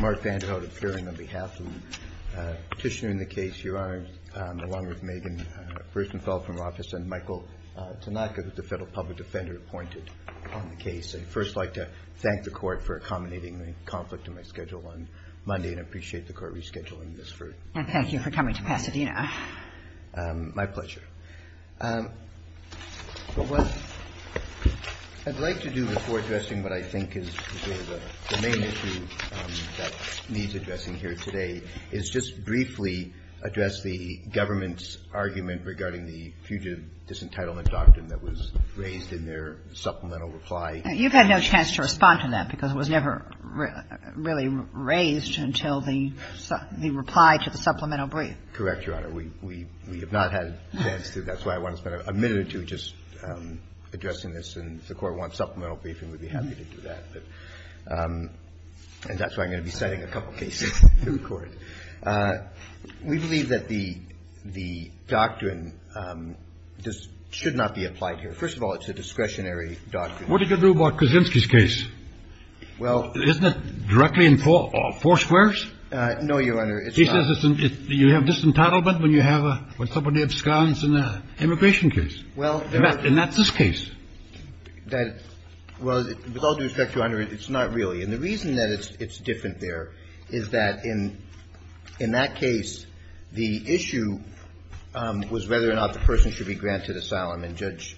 Mark Vanderhout, appearing on behalf of the petitioner in the case. Your Honor, along with Megan Bersenfeld from office and Michael Tanaka, the Federal Public Defender, appointed on the case. I'd first like to thank the Court for accommodating the conflict in my schedule on Monday, and I appreciate the Court rescheduling this for me. And thank you for coming to Pasadena. My pleasure. What I'd like to do before addressing what I think is the main issue that needs addressing here today is just briefly address the government's argument regarding the fugitive disentitlement doctrine that was raised in their supplemental reply. You've had no chance to respond to that because it was never really raised until the reply to the supplemental brief. Correct, Your Honor. We have not had a chance to. That's why I want to spend a minute or two just addressing this, and if the Court wants supplemental briefing, we'd be happy to do that. And that's why I'm going to be citing a couple cases to the Court. We believe that the doctrine should not be applied here. First of all, it's a discretionary doctrine. What did you do about Kaczynski's case? Well — Isn't it directly involved? Four squares? No, Your Honor. He says you have disentitlement when you have a — when somebody absconds in an immigration case. Well — And that's this case. That — well, with all due respect, Your Honor, it's not really. And the reason that it's different there is that in that case, the issue was whether or not the person should be granted asylum. And Judge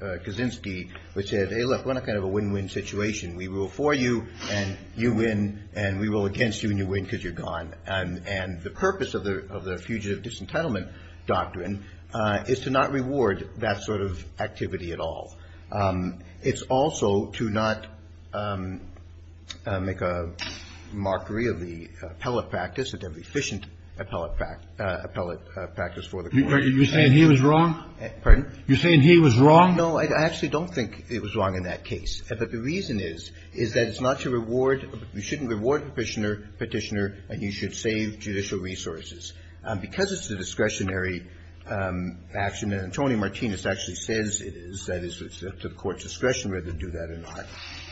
Kaczynski said, hey, look, we're not kind of a win-win situation. We rule for you, and you win, and we rule against you, and you win because you're gone. And the purpose of the fugitive disentitlement doctrine is to not reward that sort of activity at all. It's also to not make a mockery of the appellate practice, of the deficient appellate practice for the court. You're saying he was wrong? Pardon? You're saying he was wrong? No, I actually don't think it was wrong in that case. But the reason is, is that it's not to reward — you shouldn't reward Petitioner, and you should save judicial resources. Because it's a discretionary action, and Antonio Martinez actually says it is, that it's up to the Court's discretion whether to do that or not.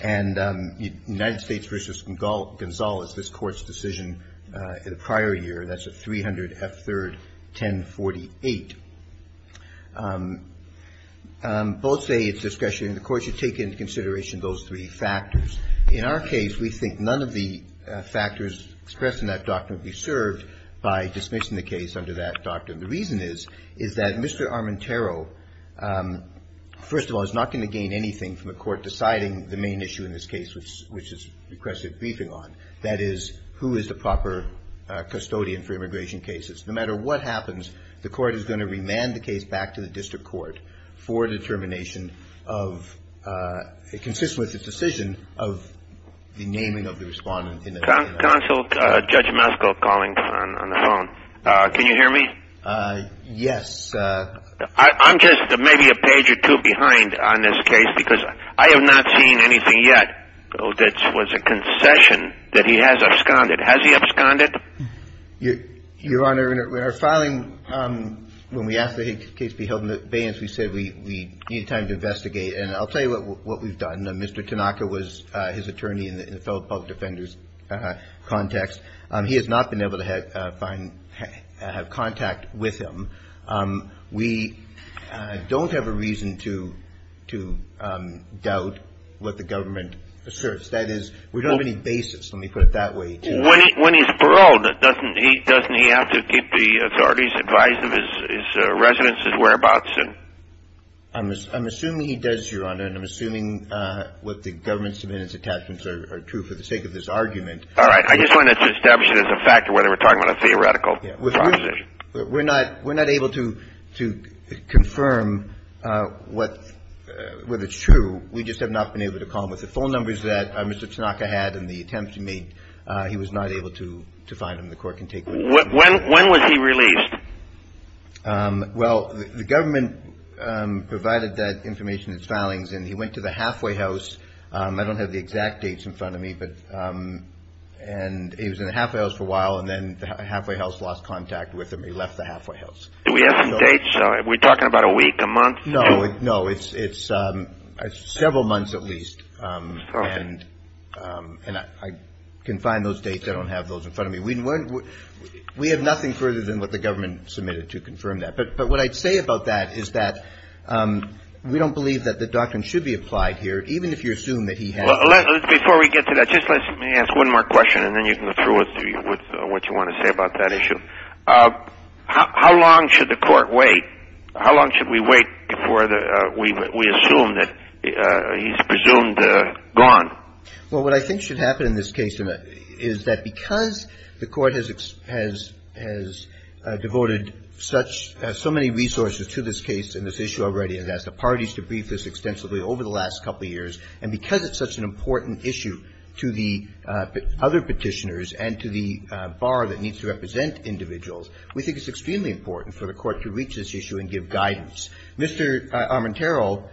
And United States v. Gonzales, this Court's decision in the prior year, that's at 300 F. 3rd, 1048. Both say it's discretionary, and the Court should take into consideration those three factors. In our case, we think none of the factors expressed in that doctrine would be served by dismissing the case under that doctrine. The reason is, is that Mr. Armentaro, first of all, is not going to gain anything from the Court deciding the main issue in this case, which is regressive briefing on. That is, who is the proper custodian for immigration cases. No matter what happens, the Court is going to remand the case back to the district court for determination of — it consists with the decision of the naming of the respondent in the — Counsel, Judge Maskell calling on the phone. Can you hear me? Yes. I'm just maybe a page or two behind on this case, because I have not seen anything yet that was a concession that he has absconded. Has he absconded? Your Honor, in our filing, when we asked the case be held in abeyance, we said we need time to investigate. And I'll tell you what we've done. Mr. Tanaka was his attorney in the Federal Public Defender's context. He has not been able to find — have contact with him. We don't have a reason to doubt what the government asserts. That is, we don't have any basis, let me put it that way. When he's paroled, doesn't he have to keep the authorities advised of his residence, his whereabouts? I'm assuming he does, Your Honor, and I'm assuming what the government submitted as attachments are true for the sake of this argument. All right. I just wanted to establish it as a factor whether we're talking about a theoretical proposition. We're not able to confirm whether it's true. We just have not been able to call him. With the phone numbers that Mr. Tanaka had and the attempts he made, he was not able to find him. The court can take — When was he released? Well, the government provided that information in its filings, and he went to the halfway house. I don't have the exact dates in front of me, but — and he was in the halfway house for a while, and then the halfway house lost contact with him. He left the halfway house. Do we have some dates? We're talking about a week, a month? No. No, it's several months at least. Okay. And I can find those dates. I don't have those in front of me. We have nothing further than what the government submitted to confirm that. But what I'd say about that is that we don't believe that the doctrine should be applied here, even if you assume that he has — Before we get to that, just let me ask one more question, and then you can go through with what you want to say about that issue. How long should the court wait? How long should we wait before we assume that he's presumed gone? Well, what I think should happen in this case is that because the Court has devoted such — so many resources to this case and this issue already, and has asked the parties to brief this extensively over the last couple of years, and because it's such an important issue to the other Petitioners and to the bar that needs to represent individuals, we think it's extremely important for the Court to reach this issue and give guidance. Mr. Armantaro,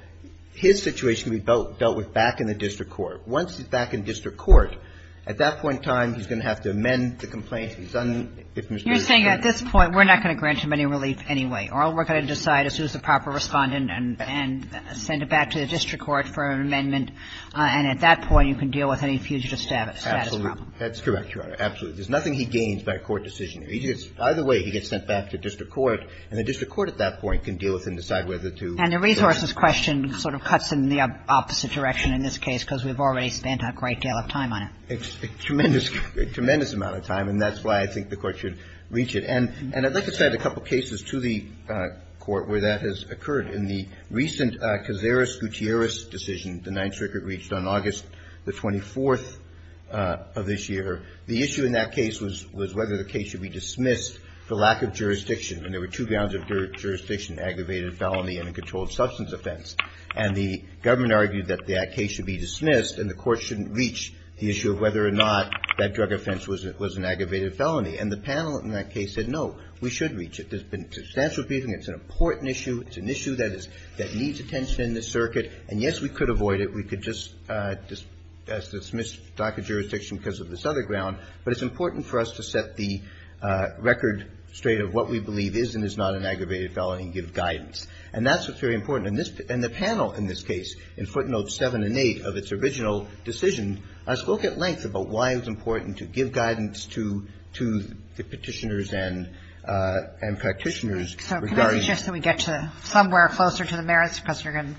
his situation can be dealt with back in the district court. Once he's back in district court, at that point in time, he's going to have to amend the complaint. He's done — You're saying at this point we're not going to grant him any relief anyway, or we're going to decide as soon as the proper Respondent and send it back to the district court for an amendment, and at that point you can deal with any fugitive status problem. Absolutely. That's correct, Your Honor. There's nothing he gains by a court decision. He gets — either way, he gets sent back to district court, and the district court at that point can deal with and decide whether to — And the resources question sort of cuts in the opposite direction in this case, because we've already spent a great deal of time on it. A tremendous — a tremendous amount of time, and that's why I think the Court should reach it. And I'd like to send a couple cases to the Court where that has occurred. In the recent Cazares-Gutierrez decision, the Ninth Circuit reached on August the 24th of this year, the issue in that case was whether the case should be dismissed for lack of jurisdiction. And there were two grounds of jurisdiction, aggravated felony and a controlled substance offense. And the government argued that that case should be dismissed and the Court shouldn't reach the issue of whether or not that drug offense was an aggravated felony. And the panel in that case said, no, we should reach it. There's been substantial briefing. It's an important issue. It's an issue that is — that needs attention in this circuit. And, yes, we could avoid it. We could just dismiss lack of jurisdiction because of this other ground. But it's important for us to set the record straight of what we believe is and is not an aggravated felony and give guidance. And that's what's very important. In this — in the panel in this case, in footnotes 7 and 8 of its original decision, I spoke at length about why it was important to give guidance to — to the Petitioners and — and Practitioners regarding — Kagan. So can I suggest that we get to somewhere closer to the merits because we're going to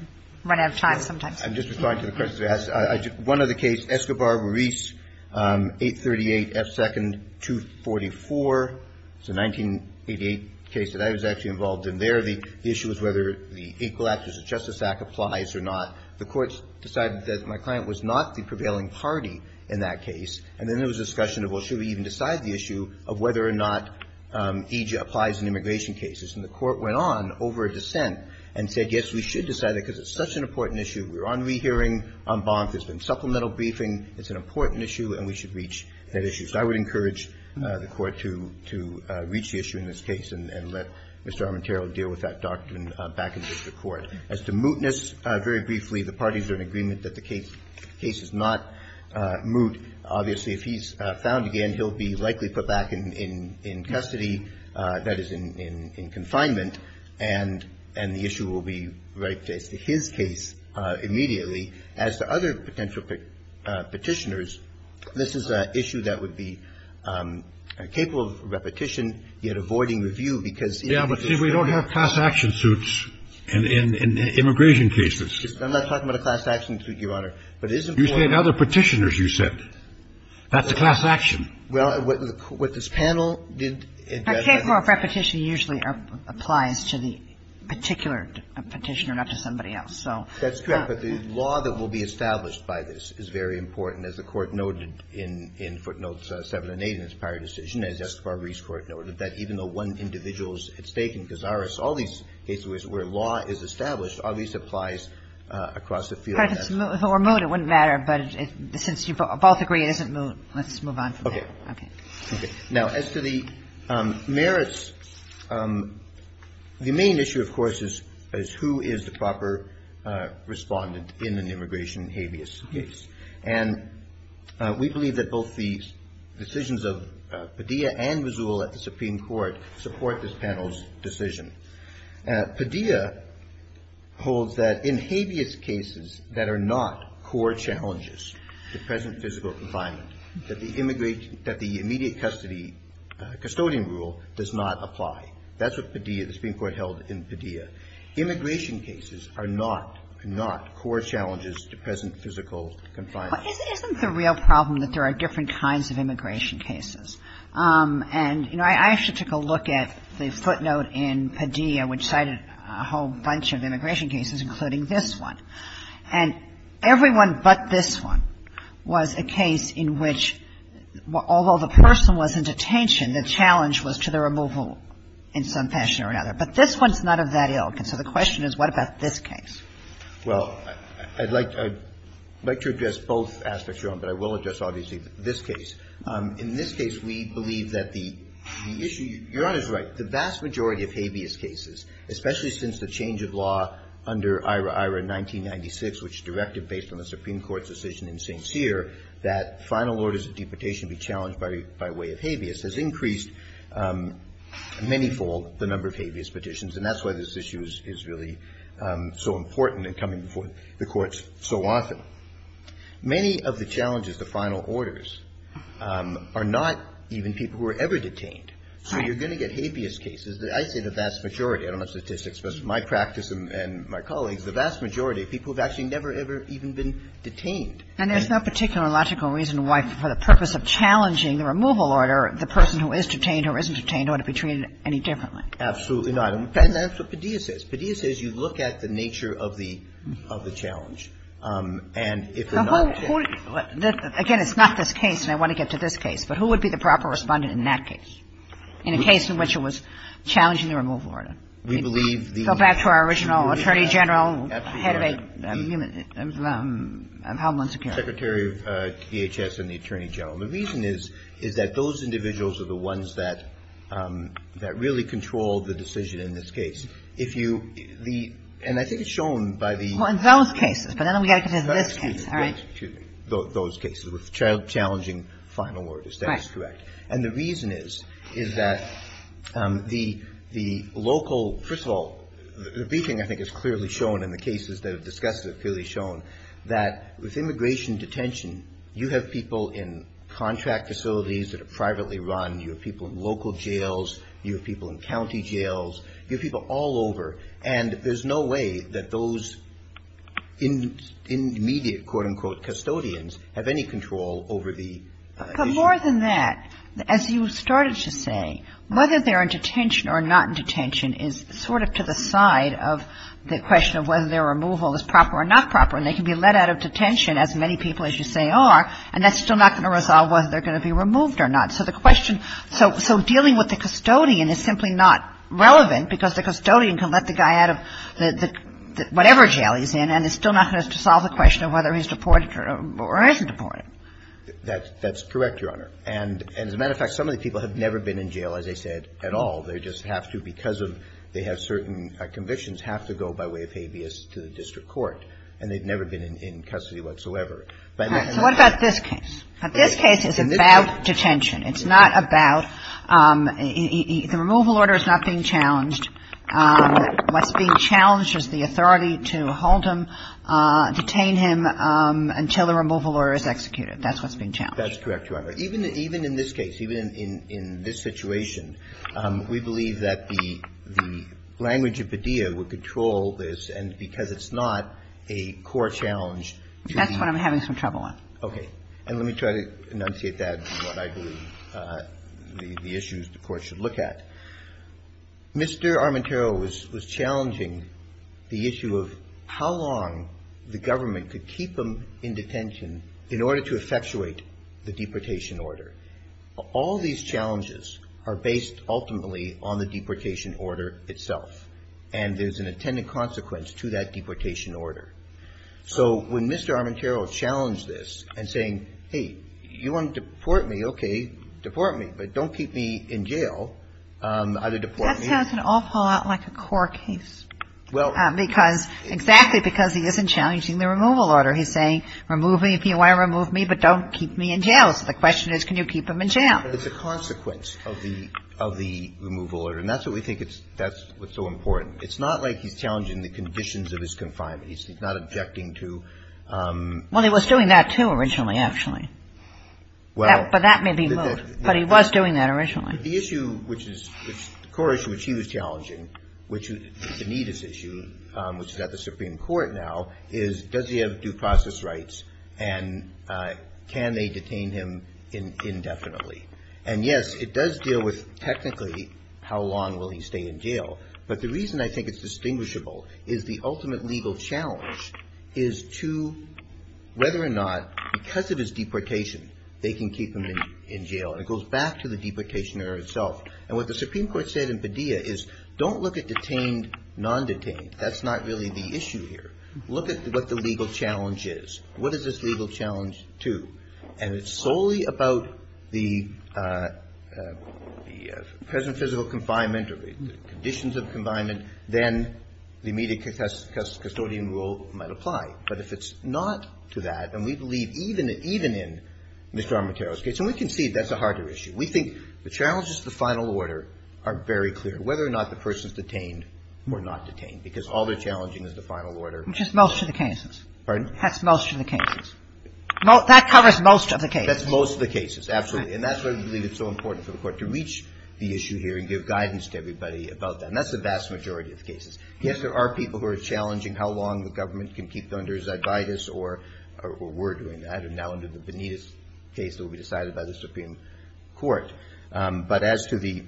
run out of time sometimes? I'm just responding to the questions you asked. One other case, Escobar-Ruiz, 838 F. 2nd, 244. It's a 1988 case that I was actually involved in there. The issue was whether the Equal Act or the Justice Act applies or not. The Court decided that my client was not the prevailing party in that case. And then there was a discussion of, well, should we even decide the issue of whether or not EJIA applies in immigration cases? And the Court went on over a dissent and said, yes, we should decide that because it's such an important issue. We're on rehearing. I'm bonked. There's been supplemental briefing. It's an important issue, and we should reach that issue. So I would encourage the Court to — to reach the issue in this case and — and let Mr. Armenterro deal with that doctrine back in district court. As to mootness, very briefly, the parties are in agreement that the case — case is not moot. Obviously, if he's found again, he'll be likely put back in — in custody, that is, in — in confinement, and — and the issue will be right to his case immediately. As to other potential Petitioners, this is an issue that would be capable of repetition, yet avoiding review because — Yeah, but see, we don't have class action suits in — in immigration cases. I'm not talking about a class action suit, Your Honor. But it is important — You said other Petitioners, you said. That's a class action. Well, what this panel did — K-4 repetition usually applies to the particular Petitioner, not to somebody else, so. That's correct, but the law that will be established by this is very important, as the Court noted in — in footnotes 7 and 8 in its prior decision, as Justice Barberi's Court noted, that even though one individual is at stake in Gazarus, all these cases where law is established, all these applies across the field. If it's moot or moot, it wouldn't matter, but since you both agree it isn't moot, let's move on from there. Okay. Now, as to the merits, the main issue, of course, is — is who is the proper respondent in an immigration habeas case. And we believe that both the decisions of Padilla and Mazul at the Supreme Court support this panel's decision. Padilla holds that in habeas cases that are not core challenges to present physical confinement, that the immediate custody custodian rule does not apply. That's what Padilla — the Supreme Court held in Padilla. Immigration cases are not — are not core challenges to present physical confinement. But isn't the real problem that there are different kinds of immigration cases? And, you know, I actually took a look at the footnote in Padilla which cited a whole bunch of immigration cases, including this one. And everyone but this one was a case in which, although the person was in detention, the challenge was to the removal in some fashion or another. But this one's not of that ilk. And so the question is, what about this case? Well, I'd like — I'd like to address both aspects, Your Honor, but I will address obviously this case. In this case, we believe that the issue — Your Honor's right. The vast majority of habeas cases, especially since the change of law under IHRA-IHRA in 1996, which directed based on the Supreme Court's decision in St. Cyr, that final orders of deportation be challenged by way of habeas, has increased many-fold the number of habeas petitions. And that's why this issue is really so important and coming before the courts so often. Many of the challenges to final orders are not even people who are ever detained. So you're going to get habeas cases. I say the vast majority. I don't have statistics, but my practice and my colleagues, the vast majority of people have actually never, ever even been detained. And there's no particular logical reason why, for the purpose of challenging the removal order, the person who is detained or isn't detained ought to be treated any differently. Absolutely not. And that's what Padilla says. Padilla says you look at the nature of the — of the challenge, and if they're not detained. Again, it's not this case, and I want to get to this case. But who would be the proper Respondent in that case, in a case in which it was challenging the removal order? We believe the — Go back to our original Attorney General, head of a — of Homeland Security. Secretary of DHS and the Attorney General. The reason is, is that those individuals are the ones that really control the decision in this case. If you — and I think it's shown by the — Well, in those cases, but then we've got to consider this case, all right? Excuse me. Those cases with challenging final orders. That is correct. And the reason is, is that the — the local — first of all, the briefing, I think, has clearly shown, and the cases that have discussed it have clearly shown that with immigration detention, you have people in contract facilities that are privately run. You have people in local jails. You have people in county jails. You have people all over. And there's no way that those immediate, quote, unquote, custodians, have any control over the issue. But more than that, as you started to say, whether they're in detention or not in detention is sort of to the side of the question of whether their removal is proper or not proper. And they can be let out of detention, as many people as you say are, and that's still not going to resolve whether they're going to be removed or not. So the question — so dealing with the custodian is simply not relevant, because the custodian can let the guy out of whatever jail he's in, and it's still not going to solve the question of whether he's deported or isn't deported. That's correct, Your Honor. And as a matter of fact, some of the people have never been in jail, as I said, at all. They just have to, because of — they have certain convictions, have to go by way of habeas to the district court. And they've never been in custody whatsoever. So what about this case? This case is about detention. It's not about — the removal order is not being challenged. What's being challenged is the authority to hold him, detain him until the removal order is executed. That's what's being challenged. That's correct, Your Honor. Even in this case, even in this situation, we believe that the language of Padilla would control this, and because it's not a core challenge to the — That's what I'm having some trouble with. Okay. And let me try to enunciate that in what I believe the issues the Court should look at. Mr. Armentaro was challenging the issue of how long the government could keep him in detention in order to effectuate the deportation order. All these challenges are based ultimately on the deportation order itself, and there's an attendant consequence to that deportation order. So when Mr. Armentaro challenged this and saying, hey, you want to deport me, okay, deport me, but don't keep me in jail, either deport me. That sounds an awful lot like a core case. Well — Because — exactly because he isn't challenging the removal order. He's saying, remove me if you want to remove me, but don't keep me in jail. So the question is, can you keep him in jail? But it's a consequence of the — of the removal order, and that's what we think it's — that's what's so important. It's not like he's challenging the conditions of his confinement. He's not objecting to — Well, he was doing that, too, originally, actually. Well — But that may be moved. But he was doing that originally. The issue which is — the core issue which he was challenging, which is a needless issue, which is at the Supreme Court now, is does he have due process rights and can they detain him indefinitely? And, yes, it does deal with technically how long will he stay in jail. But the reason I think it's distinguishable is the ultimate legal challenge is to whether or not, because it is deportation, they can keep him in jail. And it goes back to the deportation error itself. And what the Supreme Court said in Padilla is don't look at detained, non-detained. That's not really the issue here. Look at what the legal challenge is. What is this legal challenge to? And it's solely about the present physical confinement or the conditions of confinement. Then the immediate custodian rule might apply. But if it's not to that, and we believe even in Mr. Armatero's case, and we can see that's a harder issue. We think the challenges to the final order are very clear, whether or not the person is detained or not detained, because all they're challenging is the final order. Which is most of the cases. Pardon? That's most of the cases. Well, that covers most of the cases. That's most of the cases, absolutely. And that's why we believe it's so important for the Court to reach the issue here and give guidance to everybody about that. And that's the vast majority of cases. Yes, there are people who are challenging how long the government can keep them under Zadvaitis or we're doing that, and now under the Benitez case that will be decided by the Supreme Court. But as to the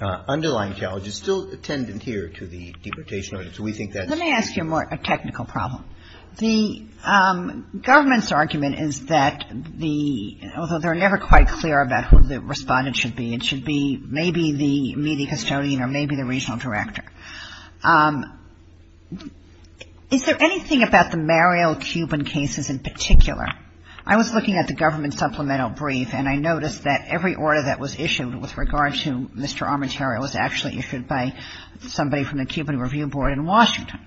underlying challenge, it's still attendant here to the deportation So we think that's Let me ask you a more technical problem. The government's argument is that the, although they're never quite clear about who the respondent should be. It should be maybe the media custodian or maybe the regional director. Is there anything about the Mariel Cuban cases in particular? I was looking at the government supplemental brief, and I noticed that every order that was issued with regard to Mr. Armenterio was actually issued by somebody from the Cuban Review Board in Washington.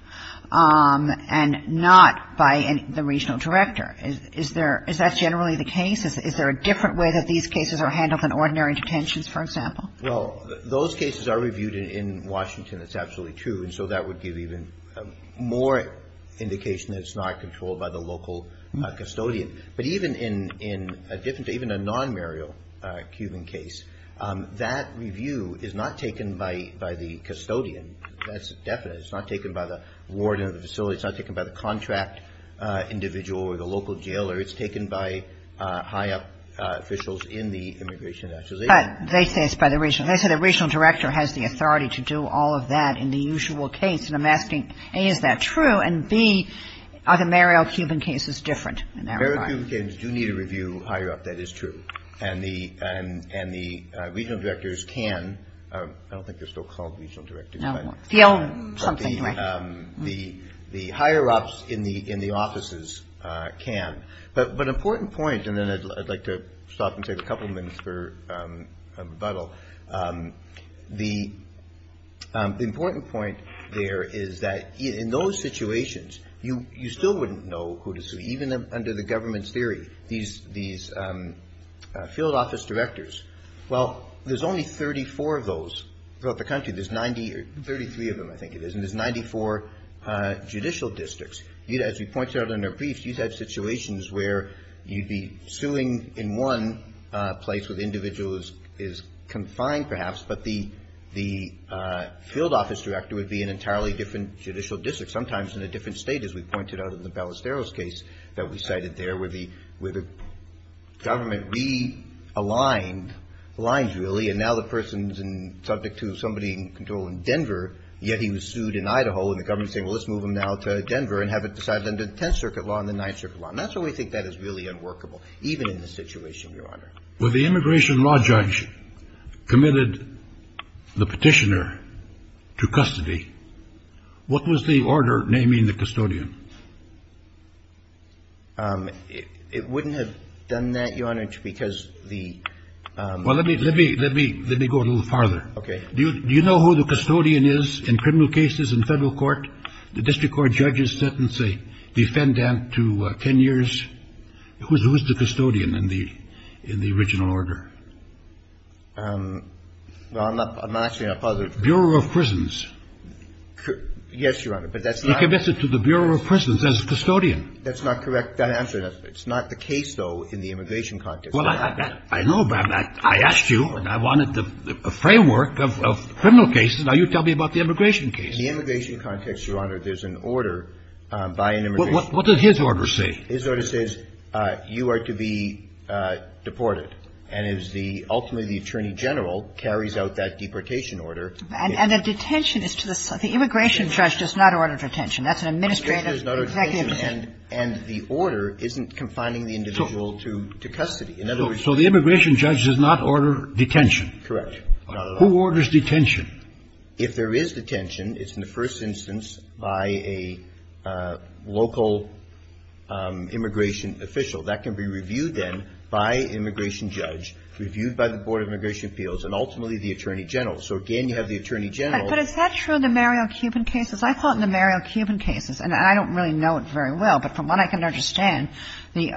And not by the regional director. Is that generally the case? Is there a different way that these cases are handled than ordinary detentions, for example? Well, those cases are reviewed in Washington. It's absolutely true. And so that would give even more indication that it's not controlled by the local custodian. But even in a non-Mariel Cuban case, that review is not taken by the custodian. That's definite. It's not taken by the warden of the facility. It's not taken by the contract individual or the local jailer. It's taken by high-up officials in the immigration. But they say it's by the regional. They say the regional director has the authority to do all of that in the usual case. And I'm asking, A, is that true? And, B, are the Mariel Cuban cases different in that regard? Mariel Cuban cases do need a review higher up. That is true. And the regional directors can. I don't think they're still called regional directors. The higher-ups in the offices can. But an important point, and then I'd like to stop and take a couple of minutes for a rebuttal. The important point there is that in those situations, you still wouldn't know who to sue, even under the government's theory. These field office directors, well, there's only 34 of those throughout the country. There's 90 or 33 of them, I think it is. And there's 94 judicial districts. As we pointed out in our briefs, you'd have situations where you'd be suing in one place where the individual is confined, perhaps, but the field office director would be an entirely different judicial district, sometimes in a different state, as we pointed out in the Ballesteros case that we cited there, where the government realigned, aligned really, and now the person's subject to somebody in control in Denver, yet he was sued in Idaho, and the government's saying, well, let's move him now to Denver and have it decided under the Tenth Circuit law and the Ninth Circuit law. And that's why we think that is really unworkable, even in this situation, Your Honor. When the immigration law judge committed the petitioner to custody, what was the order naming the custodian? It wouldn't have done that, Your Honor, because the ‑‑ Well, let me go a little farther. Okay. Do you know who the custodian is in criminal cases in Federal court? The district court judges sentence a defendant to 10 years. Who is the custodian in the original order? Well, I'm not saying I'm positive. Bureau of Prisons. Yes, Your Honor, but that's not ‑‑ He committed to the Bureau of Prisons as a custodian. That's not correct. That answer, it's not the case, though, in the immigration context. Well, I know that. I asked you, and I wanted the framework of criminal cases. Now you tell me about the immigration case. In the immigration context, Your Honor, there's an order by an immigration judge. What does his order say? His order says you are to be deported. And it is the ‑‑ ultimately, the attorney general carries out that deportation order. And the detention is to the ‑‑ the immigration judge does not order detention. That's an administrative executive ‑‑ So the immigration judge does not order detention. Correct. Who orders detention? If there is detention, it's in the first instance by a local immigration official. That can be reviewed, then, by an immigration judge, reviewed by the Board of Immigration Appeals, and ultimately the attorney general. So, again, you have the attorney general. But is that true in the Mario Cuban cases? I thought in the Mario Cuban cases, and I don't really know it very well, but from what I can understand, the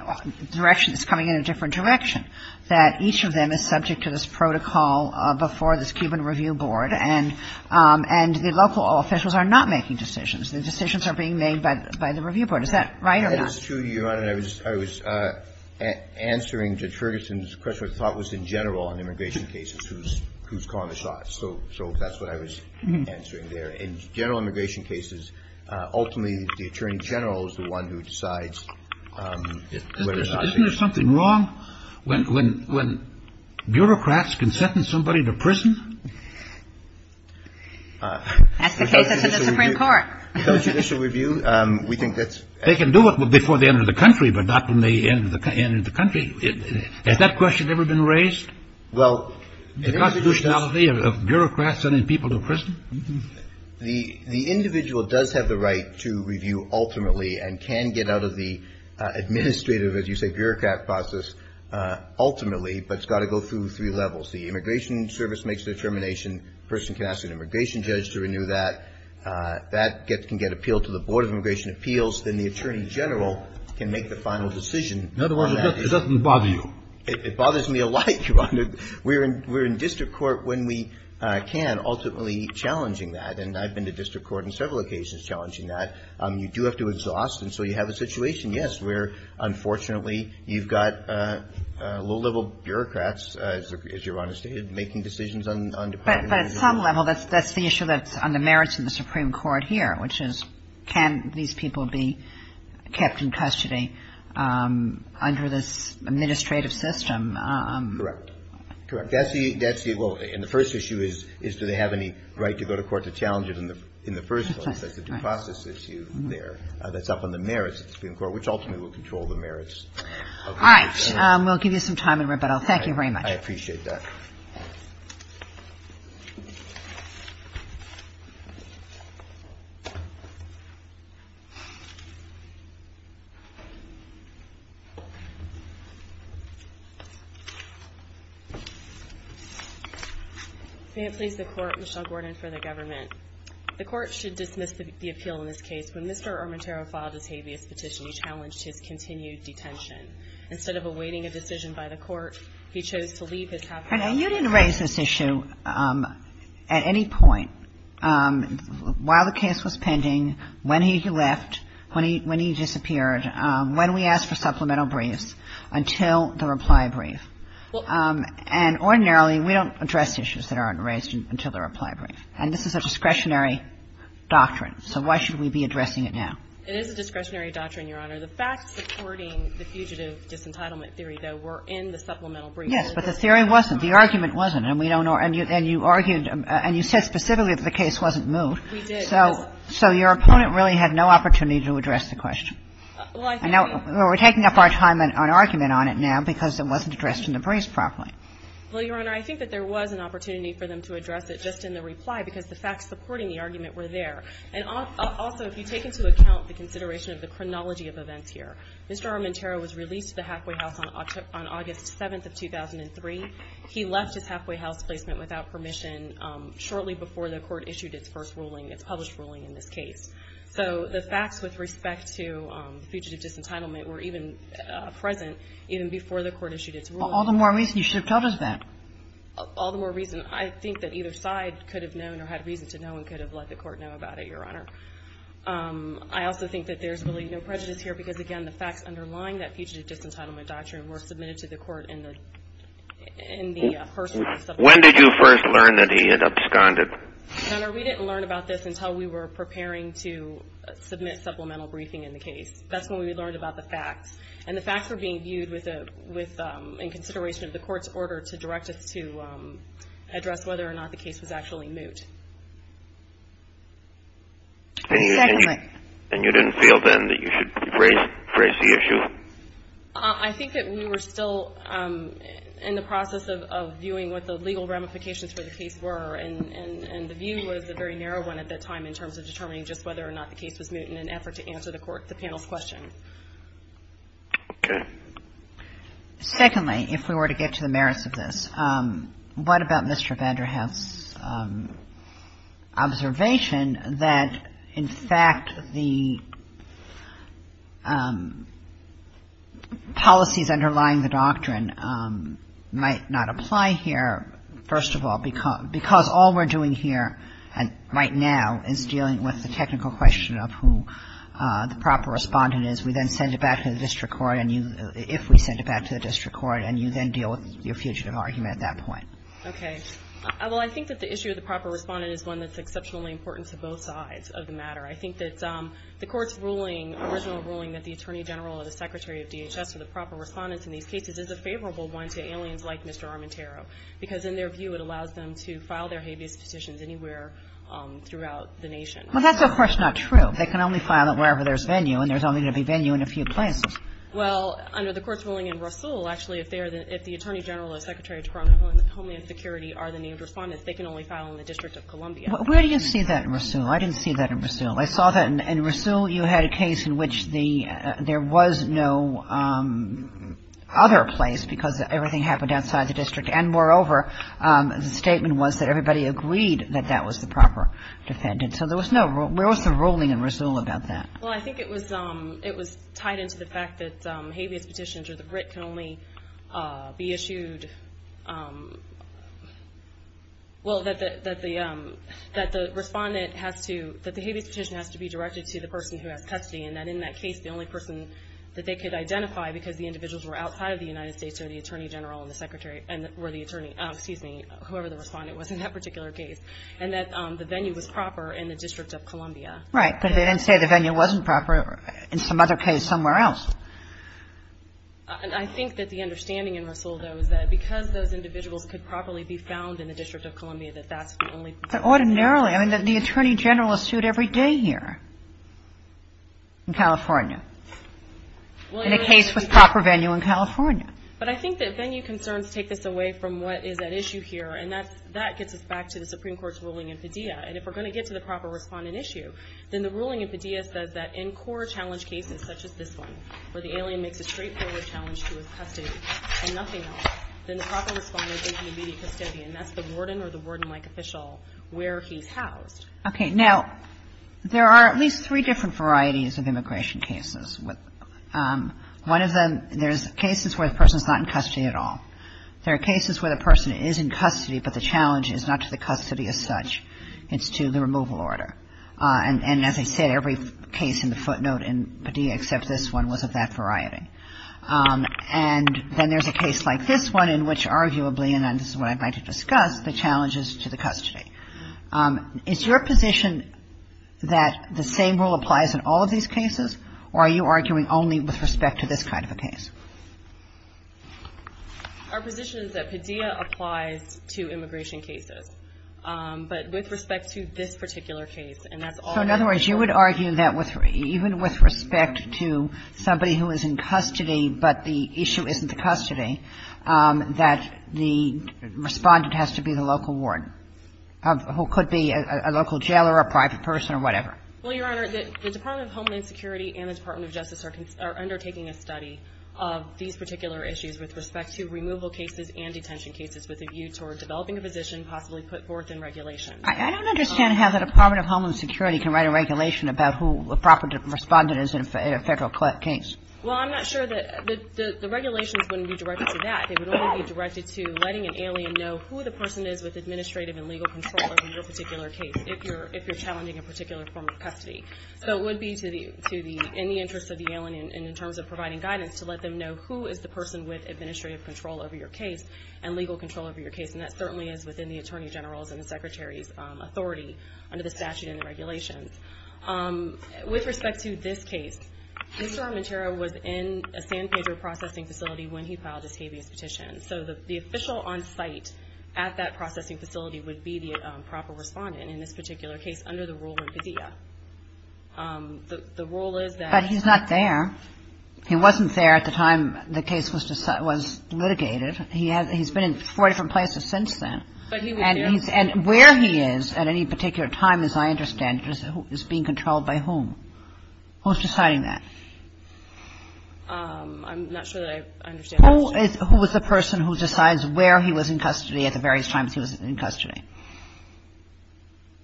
direction is coming in a different direction, that each of them is subject to this protocol before this Cuban review board, and the local officials are not making decisions. The decisions are being made by the review board. Is that right or not? That is true, Your Honor. I was answering to Ferguson's question, which I thought was in general in immigration cases, who's calling the shots. So that's what I was answering there. In general immigration cases, ultimately the attorney general is the one who decides whether or not to do it. Isn't there something wrong when bureaucrats can sentence somebody to prison? That's the case that's in the Supreme Court. If there's a judicial review, we think that's... They can do it before they enter the country, but not when they enter the country. Has that question ever been raised, the constitutionality of bureaucrats sending people to prison? The individual does have the right to review ultimately and can get out of the administrative, as you say, bureaucrat process ultimately, but it's got to go through three levels. The immigration service makes the determination. A person can ask an immigration judge to renew that. That can get appealed to the Board of Immigration Appeals. Then the attorney general can make the final decision on that. It bothers me a lot, Your Honor. We're in district court when we can, ultimately challenging that, and I've been to district court on several occasions challenging that. You do have to exhaust, and so you have a situation, yes, where unfortunately you've got low-level bureaucrats, as Your Honor stated, making decisions on departments. But at some level that's the issue that's on the merits of the Supreme Court here, which is can these people be kept in custody under this administrative system? Correct. And the first issue is do they have any right to go to court to challenge it in the first place. That's the due process issue there. That's up on the merits of the Supreme Court, which ultimately will control the merits. All right. We'll give you some time in rebuttal. Thank you very much. I appreciate that. May it please the Court, Michelle Gordon for the government. The Court should dismiss the appeal in this case. When Mr. Armentero filed his habeas petition, he challenged his continued detention. Instead of awaiting a decision by the Court, he chose to leave his half-time job. And you didn't raise this issue at any point while the case was pending, when he left, when he disappeared, when we asked for supplemental briefs, until the reply brief. And ordinarily, we don't address issues that aren't raised until the reply brief. And this is a discretionary doctrine. So why should we be addressing it now? It is a discretionary doctrine, Your Honor. The facts supporting the fugitive disentitlement theory, though, were in the supplemental brief. Yes, but the theory wasn't. The argument wasn't. And we don't know. And you argued, and you said specifically that the case wasn't moved. We did. So your opponent really had no opportunity to address the question. Well, I think we were taking up our time on argument on it now because it wasn't addressed in the briefs properly. Well, Your Honor, I think that there was an opportunity for them to address it just in the reply because the facts supporting the argument were there. And also, if you take into account the consideration of the chronology of events here, Mr. Armenterro was released to the halfway house on August 7th of 2003. He left his halfway house placement without permission shortly before the Court issued its first ruling, its published ruling in this case. So the facts with respect to fugitive disentitlement were even present even before the Court issued its ruling. All the more reason. You should have told us that. All the more reason. I think that either side could have known or had reason to know and could have let the Court know about it, Your Honor. I also think that there's really no prejudice here because, again, the facts underlying that fugitive disentitlement doctrine were submitted to the Court in the first When did you first learn that he had absconded? Your Honor, we didn't learn about this until we were preparing to submit supplemental briefing in the case. That's when we learned about the facts. And the facts were being viewed in consideration of the Court's order to direct us to address whether or not the case was actually moot. And you didn't feel then that you should raise the issue? I think that we were still in the process of viewing what the legal ramifications for the case were. And the view was a very narrow one at that time in terms of determining just whether or not the case was moot in an effort to answer the panel's question. Okay. Secondly, if we were to get to the merits of this, what about Mr. Vanderhoef's observation that, in fact, the policies underlying the doctrine might not apply here, First of all, because all we're doing here right now is dealing with the technical question of who the proper Respondent is. We then send it back to the district court and you, if we send it back to the district court, and you then deal with your fugitive argument at that point. Okay. Well, I think that the issue of the proper Respondent is one that's exceptionally important to both sides of the matter. I think that the Court's ruling, original ruling that the Attorney General or the Secretary of DHS are the proper Respondents in these cases is a favorable one to aliens like Mr. Armentaro because, in their view, it allows them to file their habeas petitions anywhere throughout the nation. Well, that's, of course, not true. They can only file it wherever there's venue, and there's only going to be venue in a few places. Well, under the Court's ruling in Rasul, actually, if they're the — if the Attorney General or Secretary of Homeland Security are the named Respondents, they can only file in the District of Columbia. Where do you see that in Rasul? I didn't see that in Rasul. I saw that in — in Rasul, you had a case in which the — there was no other place because everything happened outside the district, and moreover, the statement was that everybody agreed that that was the proper Defendant. So there was no — where was the ruling in Rasul about that? Well, I think it was — it was tied into the fact that habeas petitions or the writ can only be issued — well, that the — that the Respondent has to — that the habeas petition has to be directed to the person who has custody, and that in that case, the only person that they could identify because the individuals were outside of the United States are the Attorney General and the Secretary and were the Attorney — excuse me, whoever the Respondent was in that particular case, and that the venue was proper in the District of Columbia. Right. But they didn't say the venue wasn't proper in some other case somewhere else. And I think that the understanding in Rasul, though, is that because those individuals could properly be found in the District of Columbia, that that's the only — But ordinarily, I mean, the Attorney General is sued every day here in California in a case with proper venue in California. But I think that venue concerns take this away from what is at issue here, and that gets us back to the Supreme Court's ruling in Padilla. And if we're going to get to the proper Respondent issue, then the ruling in Padilla says that in core challenge cases such as this one, where the alien makes a straightforward challenge to his custody and nothing else, then the proper Respondent is in immediate custody, and that's the warden or the warden-like official where he's housed. Okay. Now, there are at least three different varieties of immigration cases. One of them, there's cases where the person's not in custody at all. There are cases where the person is in custody, but the challenge is not to the custody as such. It's to the removal order. And as I said, every case in the footnote in Padilla except this one was of that variety. And then there's a case like this one in which arguably, and this is what I'd like to discuss, the challenge is to the custody. Is your position that the same rule applies in all of these cases, or are you arguing only with respect to this kind of a case? Our position is that Padilla applies to immigration cases. But with respect to this particular case, and that's all we're arguing. So in other words, you would argue that even with respect to somebody who is in custody but the issue isn't the custody, that the Respondent has to be the local warden. Who could be a local jailer or a private person or whatever. Well, Your Honor, the Department of Homeland Security and the Department of Justice are undertaking a study of these particular issues with respect to removal cases and detention cases with a view toward developing a position possibly put forth in regulation. I don't understand how the Department of Homeland Security can write a regulation about who a proper Respondent is in a Federal case. Well, I'm not sure that the regulations wouldn't be directed to that. They would only be directed to letting an alien know who the person is with administrative and legal control over your particular case if you're challenging a particular form of custody. So it would be in the interest of the alien and in terms of providing guidance to let them know who is the person with administrative control over your case and legal control over your case. And that certainly is within the Attorney General's and the Secretary's authority under the statute and the regulations. With respect to this case, Mr. Armenterra was in a San Pedro processing facility when he filed his habeas petition. So the official on site at that processing facility would be the proper Respondent in this particular case under the rule of vizia. The rule is that he's not there. He wasn't there at the time the case was litigated. He's been in four different places since then. But he was there. And where he is at any particular time, as I understand it, is being controlled by whom? Who's deciding that? I'm not sure that I understand the question. Who is the person who decides where he was in custody at the various times he was in custody?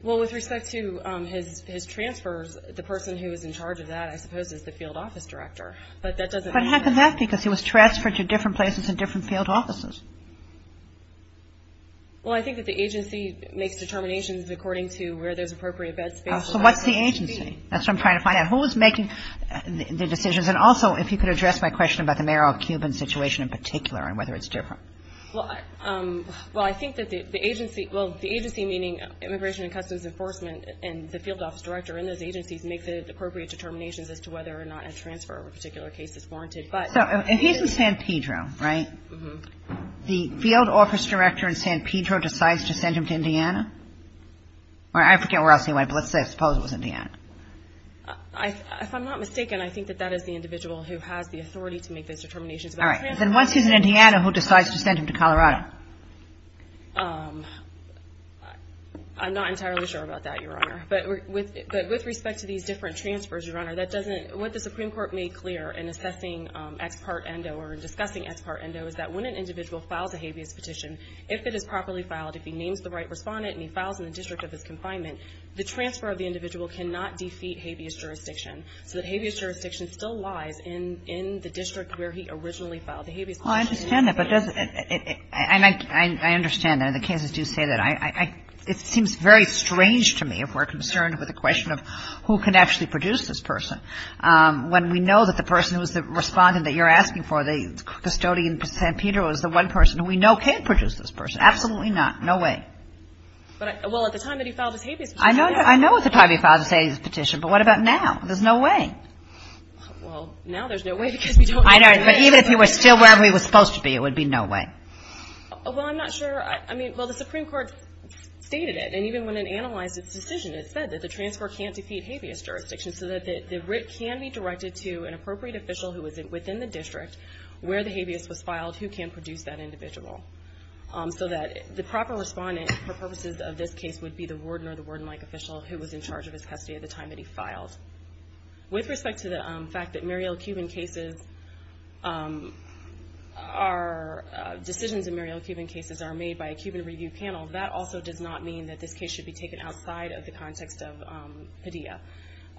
Well, with respect to his transfers, the person who was in charge of that, I suppose, is the field office director. But that doesn't mean that he was transferred to different places in different field offices. Well, I think that the agency makes determinations according to where there's appropriate bed space. So what's the agency? That's what I'm trying to find out. Who is making the decisions? And also, if you could address my question about the Mayor of Cuban situation in particular and whether it's different. Well, I think that the agency, well, the agency meaning Immigration and Customs Enforcement and the field office director in those agencies make the appropriate determinations as to whether or not a transfer of a particular case is warranted. So if he's in San Pedro, right, the field office director in San Pedro decides to send him to Indiana? Or I forget where else he went, but let's say I suppose it was Indiana. If I'm not mistaken, I think that that is the individual who has the authority to make those determinations about the transfer. All right. Then once he's in Indiana, who decides to send him to Colorado? I'm not entirely sure about that, Your Honor. But with respect to these different transfers, Your Honor, that doesn't – what the Supreme Court made clear in assessing X part endo or in discussing X part endo is that when an individual files a habeas petition, if it is properly filed, if he names the right So that habeas jurisdiction still lies in the district where he originally filed the habeas petition. Well, I understand that, but does it – and I understand that. The cases do say that. It seems very strange to me if we're concerned with the question of who can actually produce this person, when we know that the person who is the respondent that you're asking for, the custodian in San Pedro, is the one person who we know can produce this person. Absolutely not. No way. Well, at the time that he filed his habeas petition, yes. I know at the time he filed his habeas petition, but what about now? There's no way. Well, now there's no way because we don't know. I know, but even if he were still where he was supposed to be, it would be no way. Well, I'm not sure. I mean, well, the Supreme Court stated it, and even when it analyzed its decision, it said that the transfer can't defeat habeas jurisdiction so that the writ can be directed to an appropriate official who is within the district where the habeas was case would be the warden or the warden-like official who was in charge of his custody at the time that he filed. With respect to the fact that decisions in Muriel Cuban cases are made by a Cuban review panel, that also does not mean that this case should be taken outside of the context of Padilla.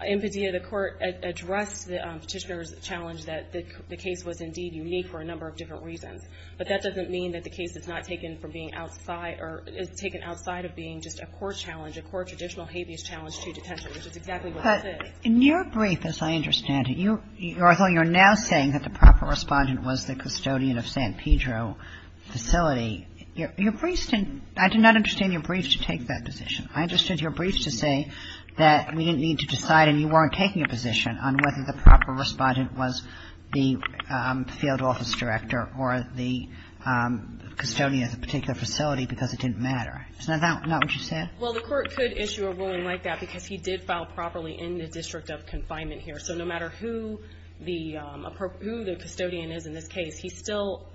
In Padilla, the court addressed the petitioner's challenge that the case was indeed unique for a number of different reasons, but that doesn't mean that the case is not taken from being outside or is taken outside of being just a court challenge, a court traditional habeas challenge to detention, which is exactly what this is. But in your brief, as I understand it, you're now saying that the proper respondent was the custodian of San Pedro facility. Your brief didn't – I did not understand your brief to take that position. I understood your brief to say that we didn't need to decide and you weren't taking a position on whether the proper respondent was the field office director or the custodian of the particular facility because it didn't matter. Isn't that what you said? Well, the court could issue a ruling like that because he did file properly in the district of confinement here. So no matter who the custodian is in this case, he still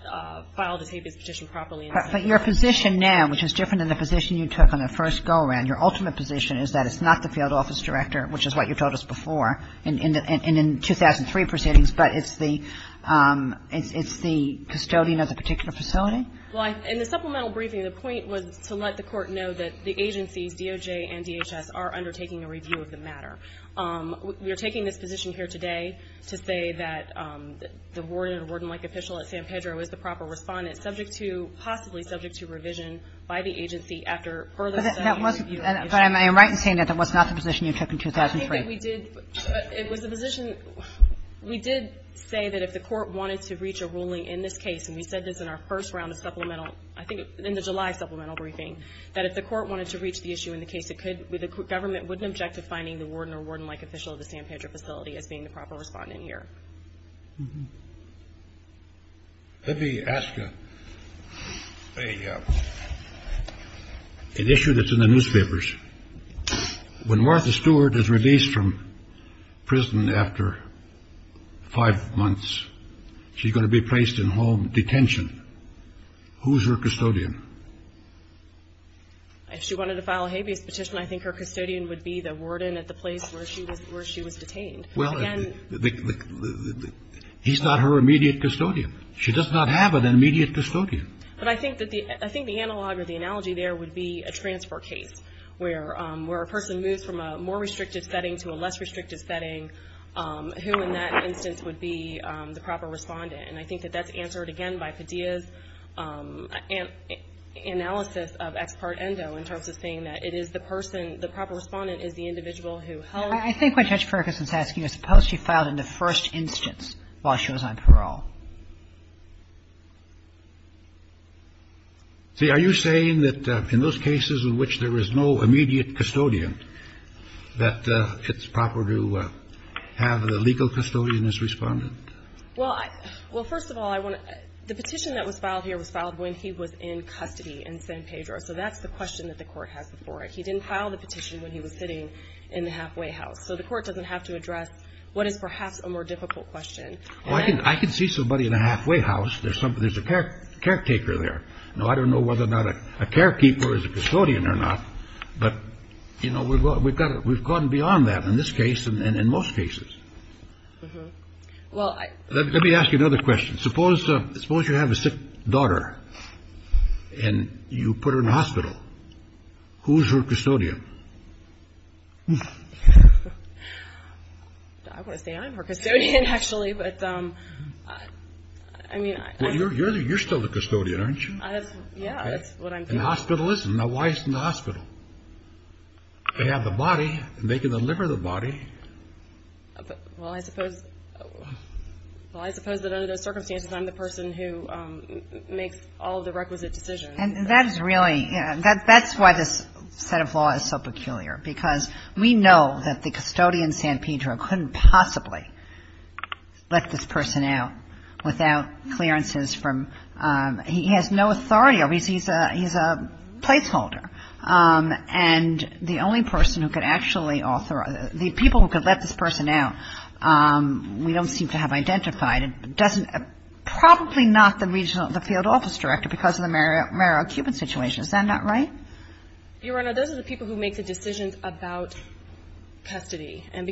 filed his habeas petition properly. But your position now, which is different than the position you took on the first go-around, your ultimate position is that it's not the field office director, which is what you told us before, and in 2003 proceedings, but it's the – it's the custodian of the particular facility? Well, in the supplemental briefing, the point was to let the court know that the agencies, DOJ and DHS, are undertaking a review of the matter. We are taking this position here today to say that the warden or warden-like official at San Pedro is the proper respondent, subject to – possibly subject to revision by the agency after further study and review. But that wasn't – but I'm right in saying that that was not the position you took in 2003. I think that we did – it was the position – we did say that if the court wanted to reach a ruling in this case, and we said this in our first round of supplemental – I think in the July supplemental briefing, that if the court wanted to reach the issue in the case, it could – the government would object to finding the warden or warden-like official at the San Pedro facility as being the proper respondent here. Let me ask an issue that's in the newspapers. When Martha Stewart is released from prison after five months, she's going to be placed in home detention. Who's her custodian? If she wanted to file a habeas petition, I think her custodian would be the warden at the place where she was detained. Well, he's not her immediate custodian. She does not have an immediate custodian. But I think that the – I think the analog or the analogy there would be a transfer case where a person moves from a more restrictive setting to a less restrictive setting. Who in that instance would be the proper respondent? And I think that that's answered, again, by Padilla's analysis of ex parte endo in terms of saying that it is the person – the proper respondent is the individual who held the case. I think what Judge Ferguson is asking is, suppose she filed in the first instance while she was on parole? See, are you saying that in those cases in which there is no immediate custodian, that it's proper to have the legal custodian as respondent? Well, I – well, first of all, I want to – the petition that was filed here was filed when he was in custody in San Pedro. So that's the question that the Court has before it. He didn't file the petition when he was sitting in the halfway house. So the Court doesn't have to address what is perhaps a more difficult question. Well, I can see somebody in a halfway house. There's a caretaker there. Now, I don't know whether or not a carekeeper is a custodian or not, but, you know, we've gone beyond that in this case and in most cases. Well, I – Let me ask you another question. Suppose you have a sick daughter and you put her in the hospital. Who is her custodian? I want to say I'm her custodian, actually, but, I mean – Well, you're still the custodian, aren't you? Yeah, that's what I'm saying. And the hospital isn't. Now, why isn't the hospital? They have the body and they can deliver the body. Well, I suppose – well, I suppose that under those circumstances, I'm the person who makes all of the requisite decisions. And that is really – that's why this set of law is so peculiar, because we know that the custodian, San Pedro, couldn't possibly let this person out without clearances from – he has no authority. He's a placeholder. And the only person who could actually authorize – the people who could let this person out, we don't seem to have identified. It doesn't – probably not the regional – the field office director because of the Merrill-Cuban situation. Is that not right? Your Honor, those are the people who make the decisions about custody. And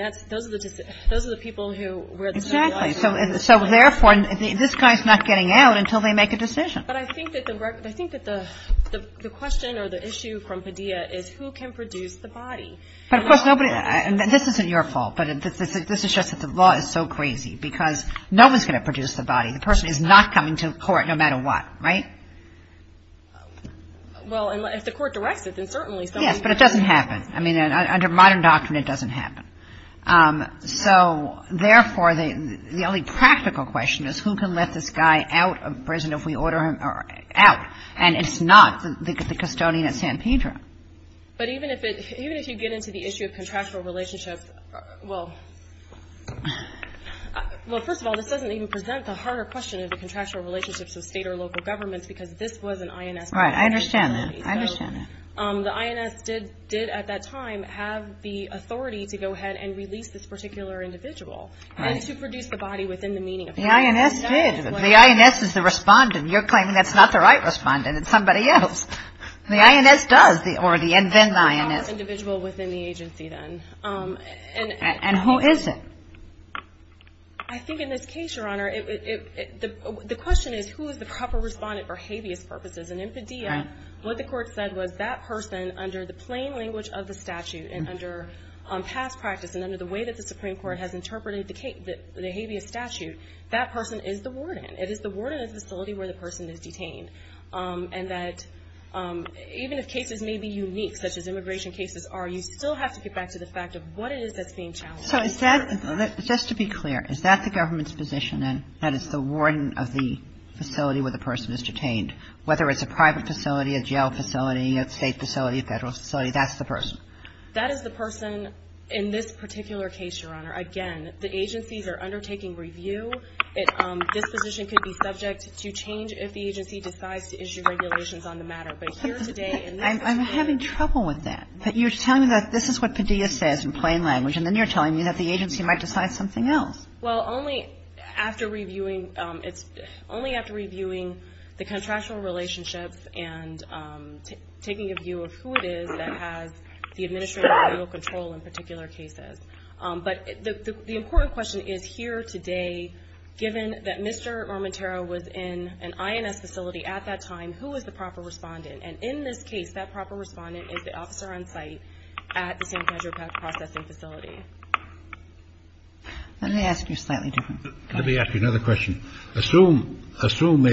that's – those are the – those are the people who – Exactly. So, therefore, this guy's not getting out until they make a decision. But I think that the – I think that the question or the issue from Padilla is who can produce the body. But, of course, nobody – and this isn't your fault, but this is just that the law is so crazy because no one's going to produce the body. The person is not coming to court no matter what, right? Well, if the court directs it, then certainly somebody – Yes, but it doesn't happen. I mean, under modern doctrine, it doesn't happen. So, therefore, the only practical question is who can let this guy out of prison if we order him out. And it's not the custodian at San Pedro. But even if it – even if you get into the issue of contractual relationships, well – well, first of all, this doesn't even present the harder question of the contractual relationships of State or local governments because this was an INS. Right. I understand that. I understand that. So the INS did at that time have the authority to go ahead and release this particular individual. Right. And to produce the body within the meaning of that. The INS did. The INS is the respondent. You're claiming that's not the right respondent. It's somebody else. The INS does the – or the invent the INS. It's the individual within the agency, then. And who is it? I think in this case, Your Honor, it – the question is who is the proper respondent for habeas purposes. And in Padilla, what the Court said was that person, under the plain language of the statute and under past practice and under the way that the Supreme Court has interpreted the habeas statute, that person is the warden. It is the warden of the facility where the person is detained. And that even if cases may be unique, such as immigration cases are, you still have to get back to the fact of what it is that's being challenged. So is that – just to be clear, is that the government's position, then, that it's the warden of the facility where the person is detained, whether it's a private facility, a jail facility, a State facility, a Federal facility, that's the person? That is the person in this particular case, Your Honor. Again, the agencies are undertaking review. This position could be subject to change if the agency decides to issue regulations on the matter. But here today in this case – I'm having trouble with that. You're telling me that this is what Padilla says in plain language, and then you're telling me that the agency might decide something else. Well, only after reviewing – it's only after reviewing the contractual relationships and taking a view of who it is that has the administrative legal control in particular cases. But the important question is, here today, given that Mr. Romatero was in an INS facility at that time, who was the proper respondent? And in this case, that proper respondent is the officer on site at the San Pedro Pact processing facility. Let me ask you a slightly different question. Let me ask you another question. Assume – assume a –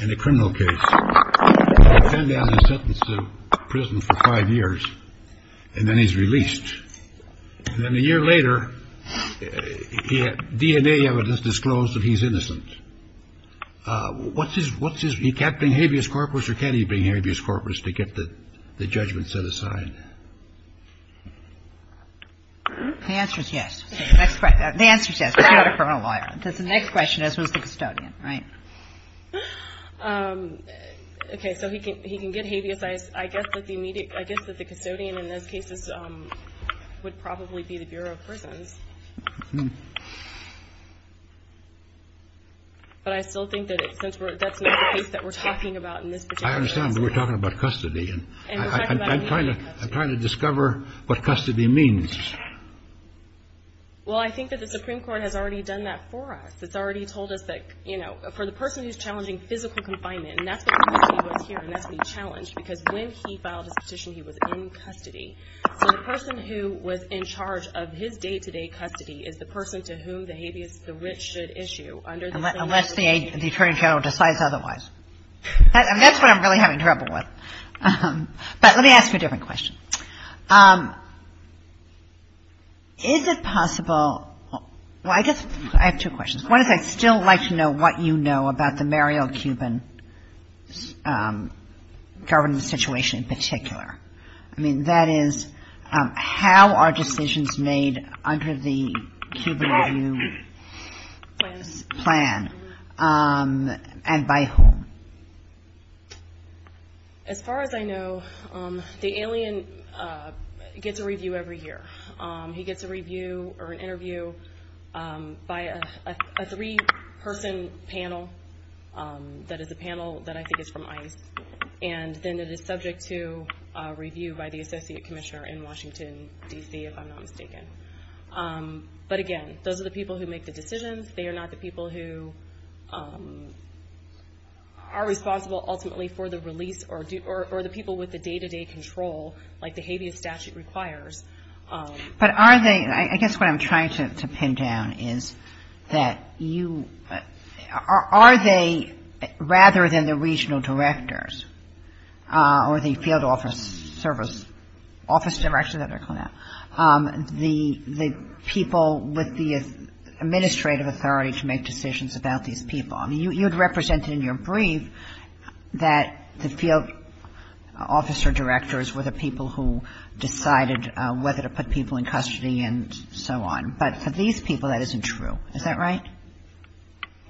in a criminal case, a man has been sentenced to prison for five years, and then he's released. And then a year later, DNA evidence disclosed that he's innocent. What's his – what's his – he can't bring habeas corpus, or can he bring habeas corpus to get the judgment set aside? The answer is yes. The answer is yes, because he's not a criminal lawyer. The next question is, who's the custodian, right? Okay. So he can – he can get habeas. I guess that the immediate – I guess that the custodian in those cases would probably be the Bureau of Prisons. But I still think that since we're – that's not the case that we're talking about in this particular case. I understand, but we're talking about custody. And I'm trying to – I'm trying to discover what custody means. Well, I think that the Supreme Court has already done that for us. It's already told us that, you know, for the person who's challenging physical confinement, and that's the reason he was here, and that's what he challenged, because when he filed his petition, he was in custody. So the person who was in charge of his day-to-day custody is the person to whom the habeas – the writ should issue under the same – Unless the Attorney General decides otherwise. I mean, that's what I'm really having trouble with. But let me ask you a different question. Is it possible – well, I guess – I have two questions. One is I'd still like to know what you know about the Mariel Cuban government situation in particular. I mean, that is, how are decisions made under the Cuban review plan, and by whom? As far as I know, the alien gets a review every year. He gets a review or an interview by a three-person panel that is a panel that I think is from ICE, and then it is subject to review by the Associate Commissioner in Washington, D.C., if I'm not mistaken. But again, those are the people who make the decisions. They are not the people who are responsible ultimately for the release or the people with the day-to-day control like the habeas statute requires. But are they – I guess what I'm trying to pin down is that you – are they, rather than the regional directors or the field office service – office director, is that what they're called now – the people with the administrative authority to make decisions about these people? I mean, you had represented in your brief that the field officer directors were the people who decided whether to put people in custody and so on. But for these people, that isn't true. Is that right?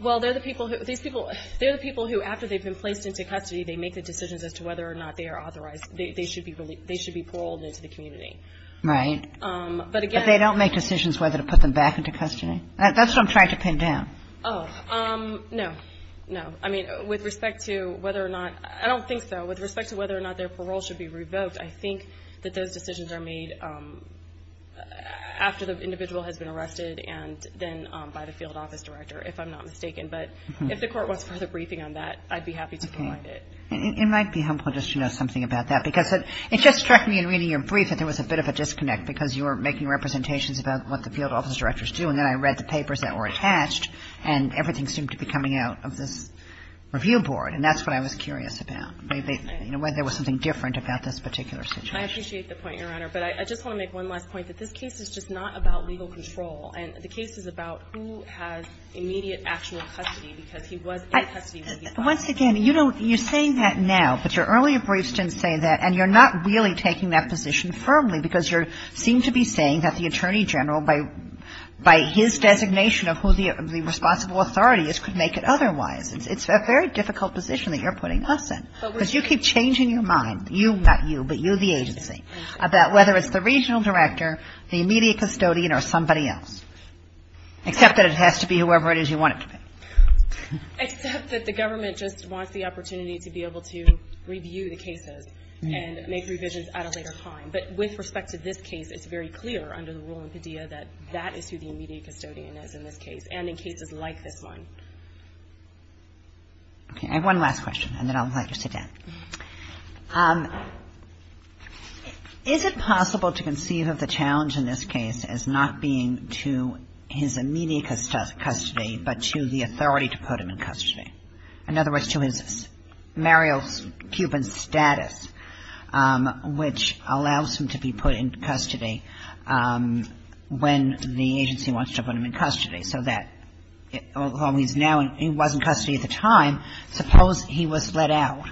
Well, they're the people who – these people – they're the people who, after they've been placed into custody, they make the decisions as to whether or not they are authorized – they should be paroled into the community. Right. But again – But they don't make decisions whether to put them back into custody? That's what I'm trying to pin down. Oh. No. No. I mean, with respect to whether or not – I don't think so. With respect to whether or not their parole should be revoked, I think that those decisions are made after the individual has been arrested and then by the field office director, if I'm not mistaken. But if the Court wants further briefing on that, I'd be happy to provide it. Okay. It might be helpful just to know something about that, because it just struck me in reading your brief that there was a bit of a disconnect, because you were making representations about what the field office directors do, and then I read the papers that were attached, and everything seemed to be coming out of this review board, and that's what I was curious about, whether there was something different about this particular situation. I appreciate the point, Your Honor. But I just want to make one last point, that this case is just not about legal control, and the case is about who has immediate actual custody, because he was in custody when he filed. Once again, you know, you're saying that now, but your earlier briefs didn't say that, and you're not really taking that position firmly, because you seem to be saying that the Attorney General, by his designation of who the responsible authority is, could make it otherwise. It's a very difficult position that you're putting us in, because you keep changing your mind, you, not you, but you, the agency, about whether it's the regional director, the immediate custodian, or somebody else, except that it has to be whoever it is you want it to be. Except that the government just wants the opportunity to be able to review the cases and make revisions at a later time. But with respect to this case, it's very clear under the rule in Padilla that that is who the immediate custodian is in this case, and in cases like this one. Okay. I have one last question, and then I'd like to sit down. Is it possible to conceive of the challenge in this case as not being to his immediate custody, in other words, to his Mario Cuban status, which allows him to be put in custody when the agency wants to put him in custody, so that, although he's now in — he was in custody at the time, suppose he was let out.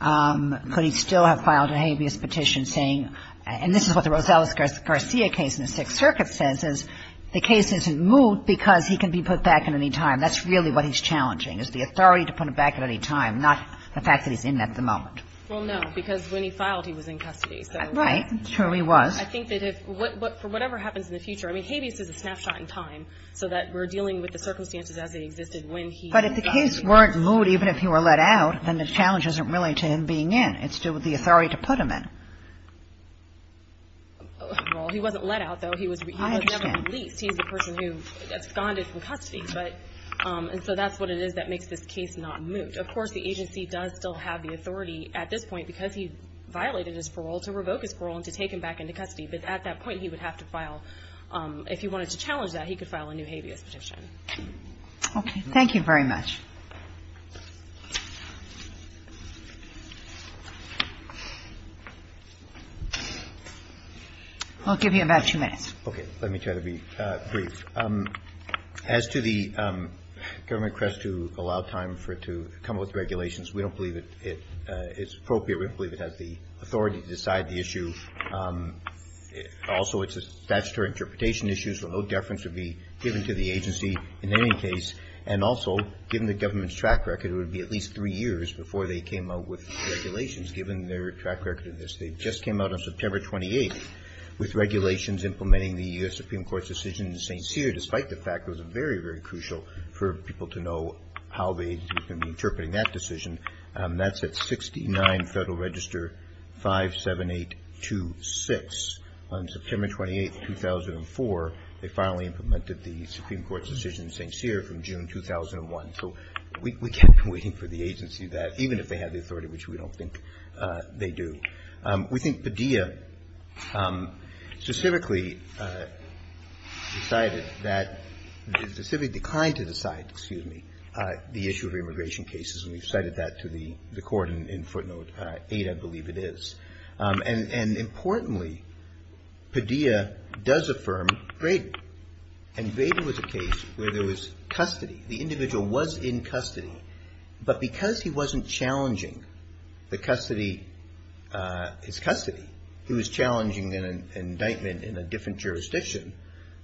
Could he still have filed a habeas petition saying — and this is what the Rosales-Garcia case in the Sixth Circuit says, is the case isn't moved because he can be put back at any time. That's really what he's challenging, is the authority to put him back at any time, not the fact that he's in at the moment. Well, no, because when he filed, he was in custody. Right. Sure he was. I think that if — for whatever happens in the future, I mean, habeas is a snapshot in time, so that we're dealing with the circumstances as they existed when he was in custody. But if the case weren't moved even if he were let out, then the challenge isn't really to him being in. It's to do with the authority to put him in. Well, he wasn't let out, though. He was never released. I understand. He's the person who absconded from custody, but — and so that's what it is that makes this case not move. Of course, the agency does still have the authority at this point because he violated his parole to revoke his parole and to take him back into custody. But at that point, he would have to file — if he wanted to challenge that, he could file a new habeas petition. Okay. Thank you very much. I'll give you about two minutes. Okay. Let me try to be brief. As to the government request to allow time for it to come up with regulations, we don't believe it is appropriate. We don't believe it has the authority to decide the issue. Also, it's a statutory interpretation issue, so no deference would be given to the agency in any case. And also, given the government's track record, it would be at least three years before they came out with regulations, given their track record of this. They just came out on September 28th with regulations implementing the U.S. Supreme Court's decision in St. Cyr, despite the fact it was very, very crucial for people to know how the agency was going to be interpreting that decision. That's at 69 Federal Register 57826. On September 28th, 2004, they finally implemented the Supreme Court's decision in St. Cyr from June 2001. So we can't be waiting for the agency to do that, even if they have the authority, which we don't think they do. We think Padilla specifically decided that, specifically declined to decide, excuse me, the issue of immigration cases. And we've cited that to the Court in footnote 8, I believe it is. And importantly, Padilla does affirm Braden. And Braden was a case where there was custody. The individual was in custody. But because he wasn't challenging the custody, his custody, he was challenging an indictment in a different jurisdiction,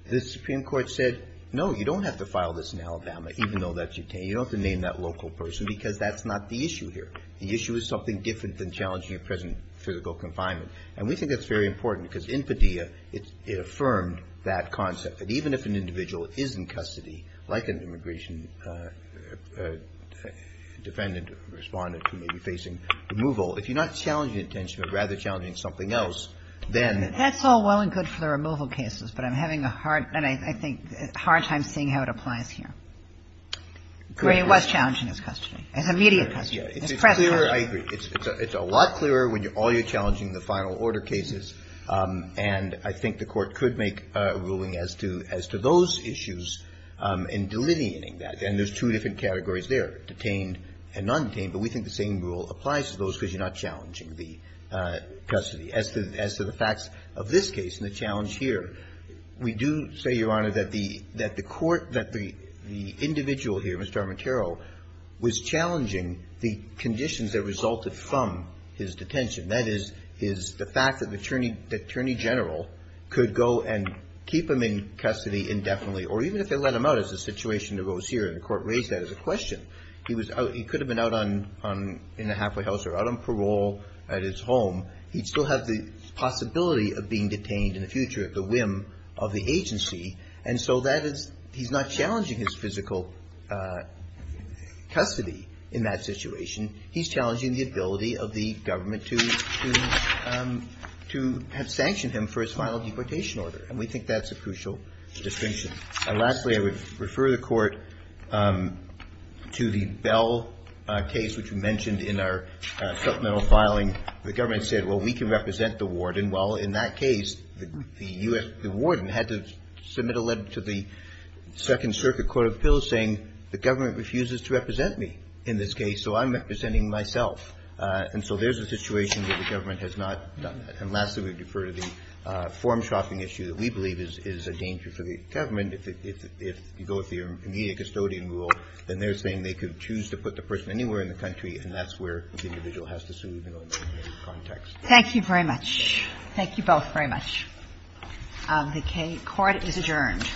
the Supreme Court said, no, you don't have to file this in Alabama, even though that's your case. You don't have to name that local person, because that's not the issue here. The issue is something different than challenging a prison physical confinement. And we think that's very important, because in Padilla, it affirmed that concept. And even if an individual is in custody, like an immigration defendant or respondent who may be facing removal, if you're not challenging detention, but rather challenging something else, then you're challenging custody. Kagan. That's all well and good for the removal cases, but I'm having a hard, and I think a hard time seeing how it applies here. Gray was challenging his custody, his immediate custody. It's a lot clearer when all you're challenging the final order cases, and I think the Court could make a ruling as to those issues in delineating that. And there's two different categories there, detained and non-detained. But we think the same rule applies to those, because you're not challenging the custody. As to the facts of this case and the challenge here, we do say, Your Honor, that the Court, that the individual here, Mr. Armentaro, was challenging the conditions that resulted from his detention. That is, is the fact that the Attorney General could go and keep him in custody indefinitely, or even if they let him out, as the situation arose here, and the Court raised that as a question. He was out. He could have been out on, in the halfway house or out on parole at his home. He'd still have the possibility of being detained in the future at the whim of the agency. And so that is, he's not challenging his physical custody in that situation. He's challenging the ability of the government to have sanctioned him for his final deportation order. And we think that's a crucial distinction. Lastly, I would refer the Court to the Bell case, which we mentioned in our supplemental filing. The government said, well, we can represent the warden. Well, in that case, the warden had to submit a letter to the Second Circuit Court of Appeals saying the government refuses to represent me in this case. So I'm representing myself. And so there's a situation where the government has not done that. And lastly, we would refer to the form-shopping issue that we believe is a danger for the government. If you go with the immediate custodian rule, then they're saying they could choose to put the person anywhere in the country, and that's where the individual has to sue, even in that context. Thank you very much. Thank you both very much. The court is adjourned. Thank you very much.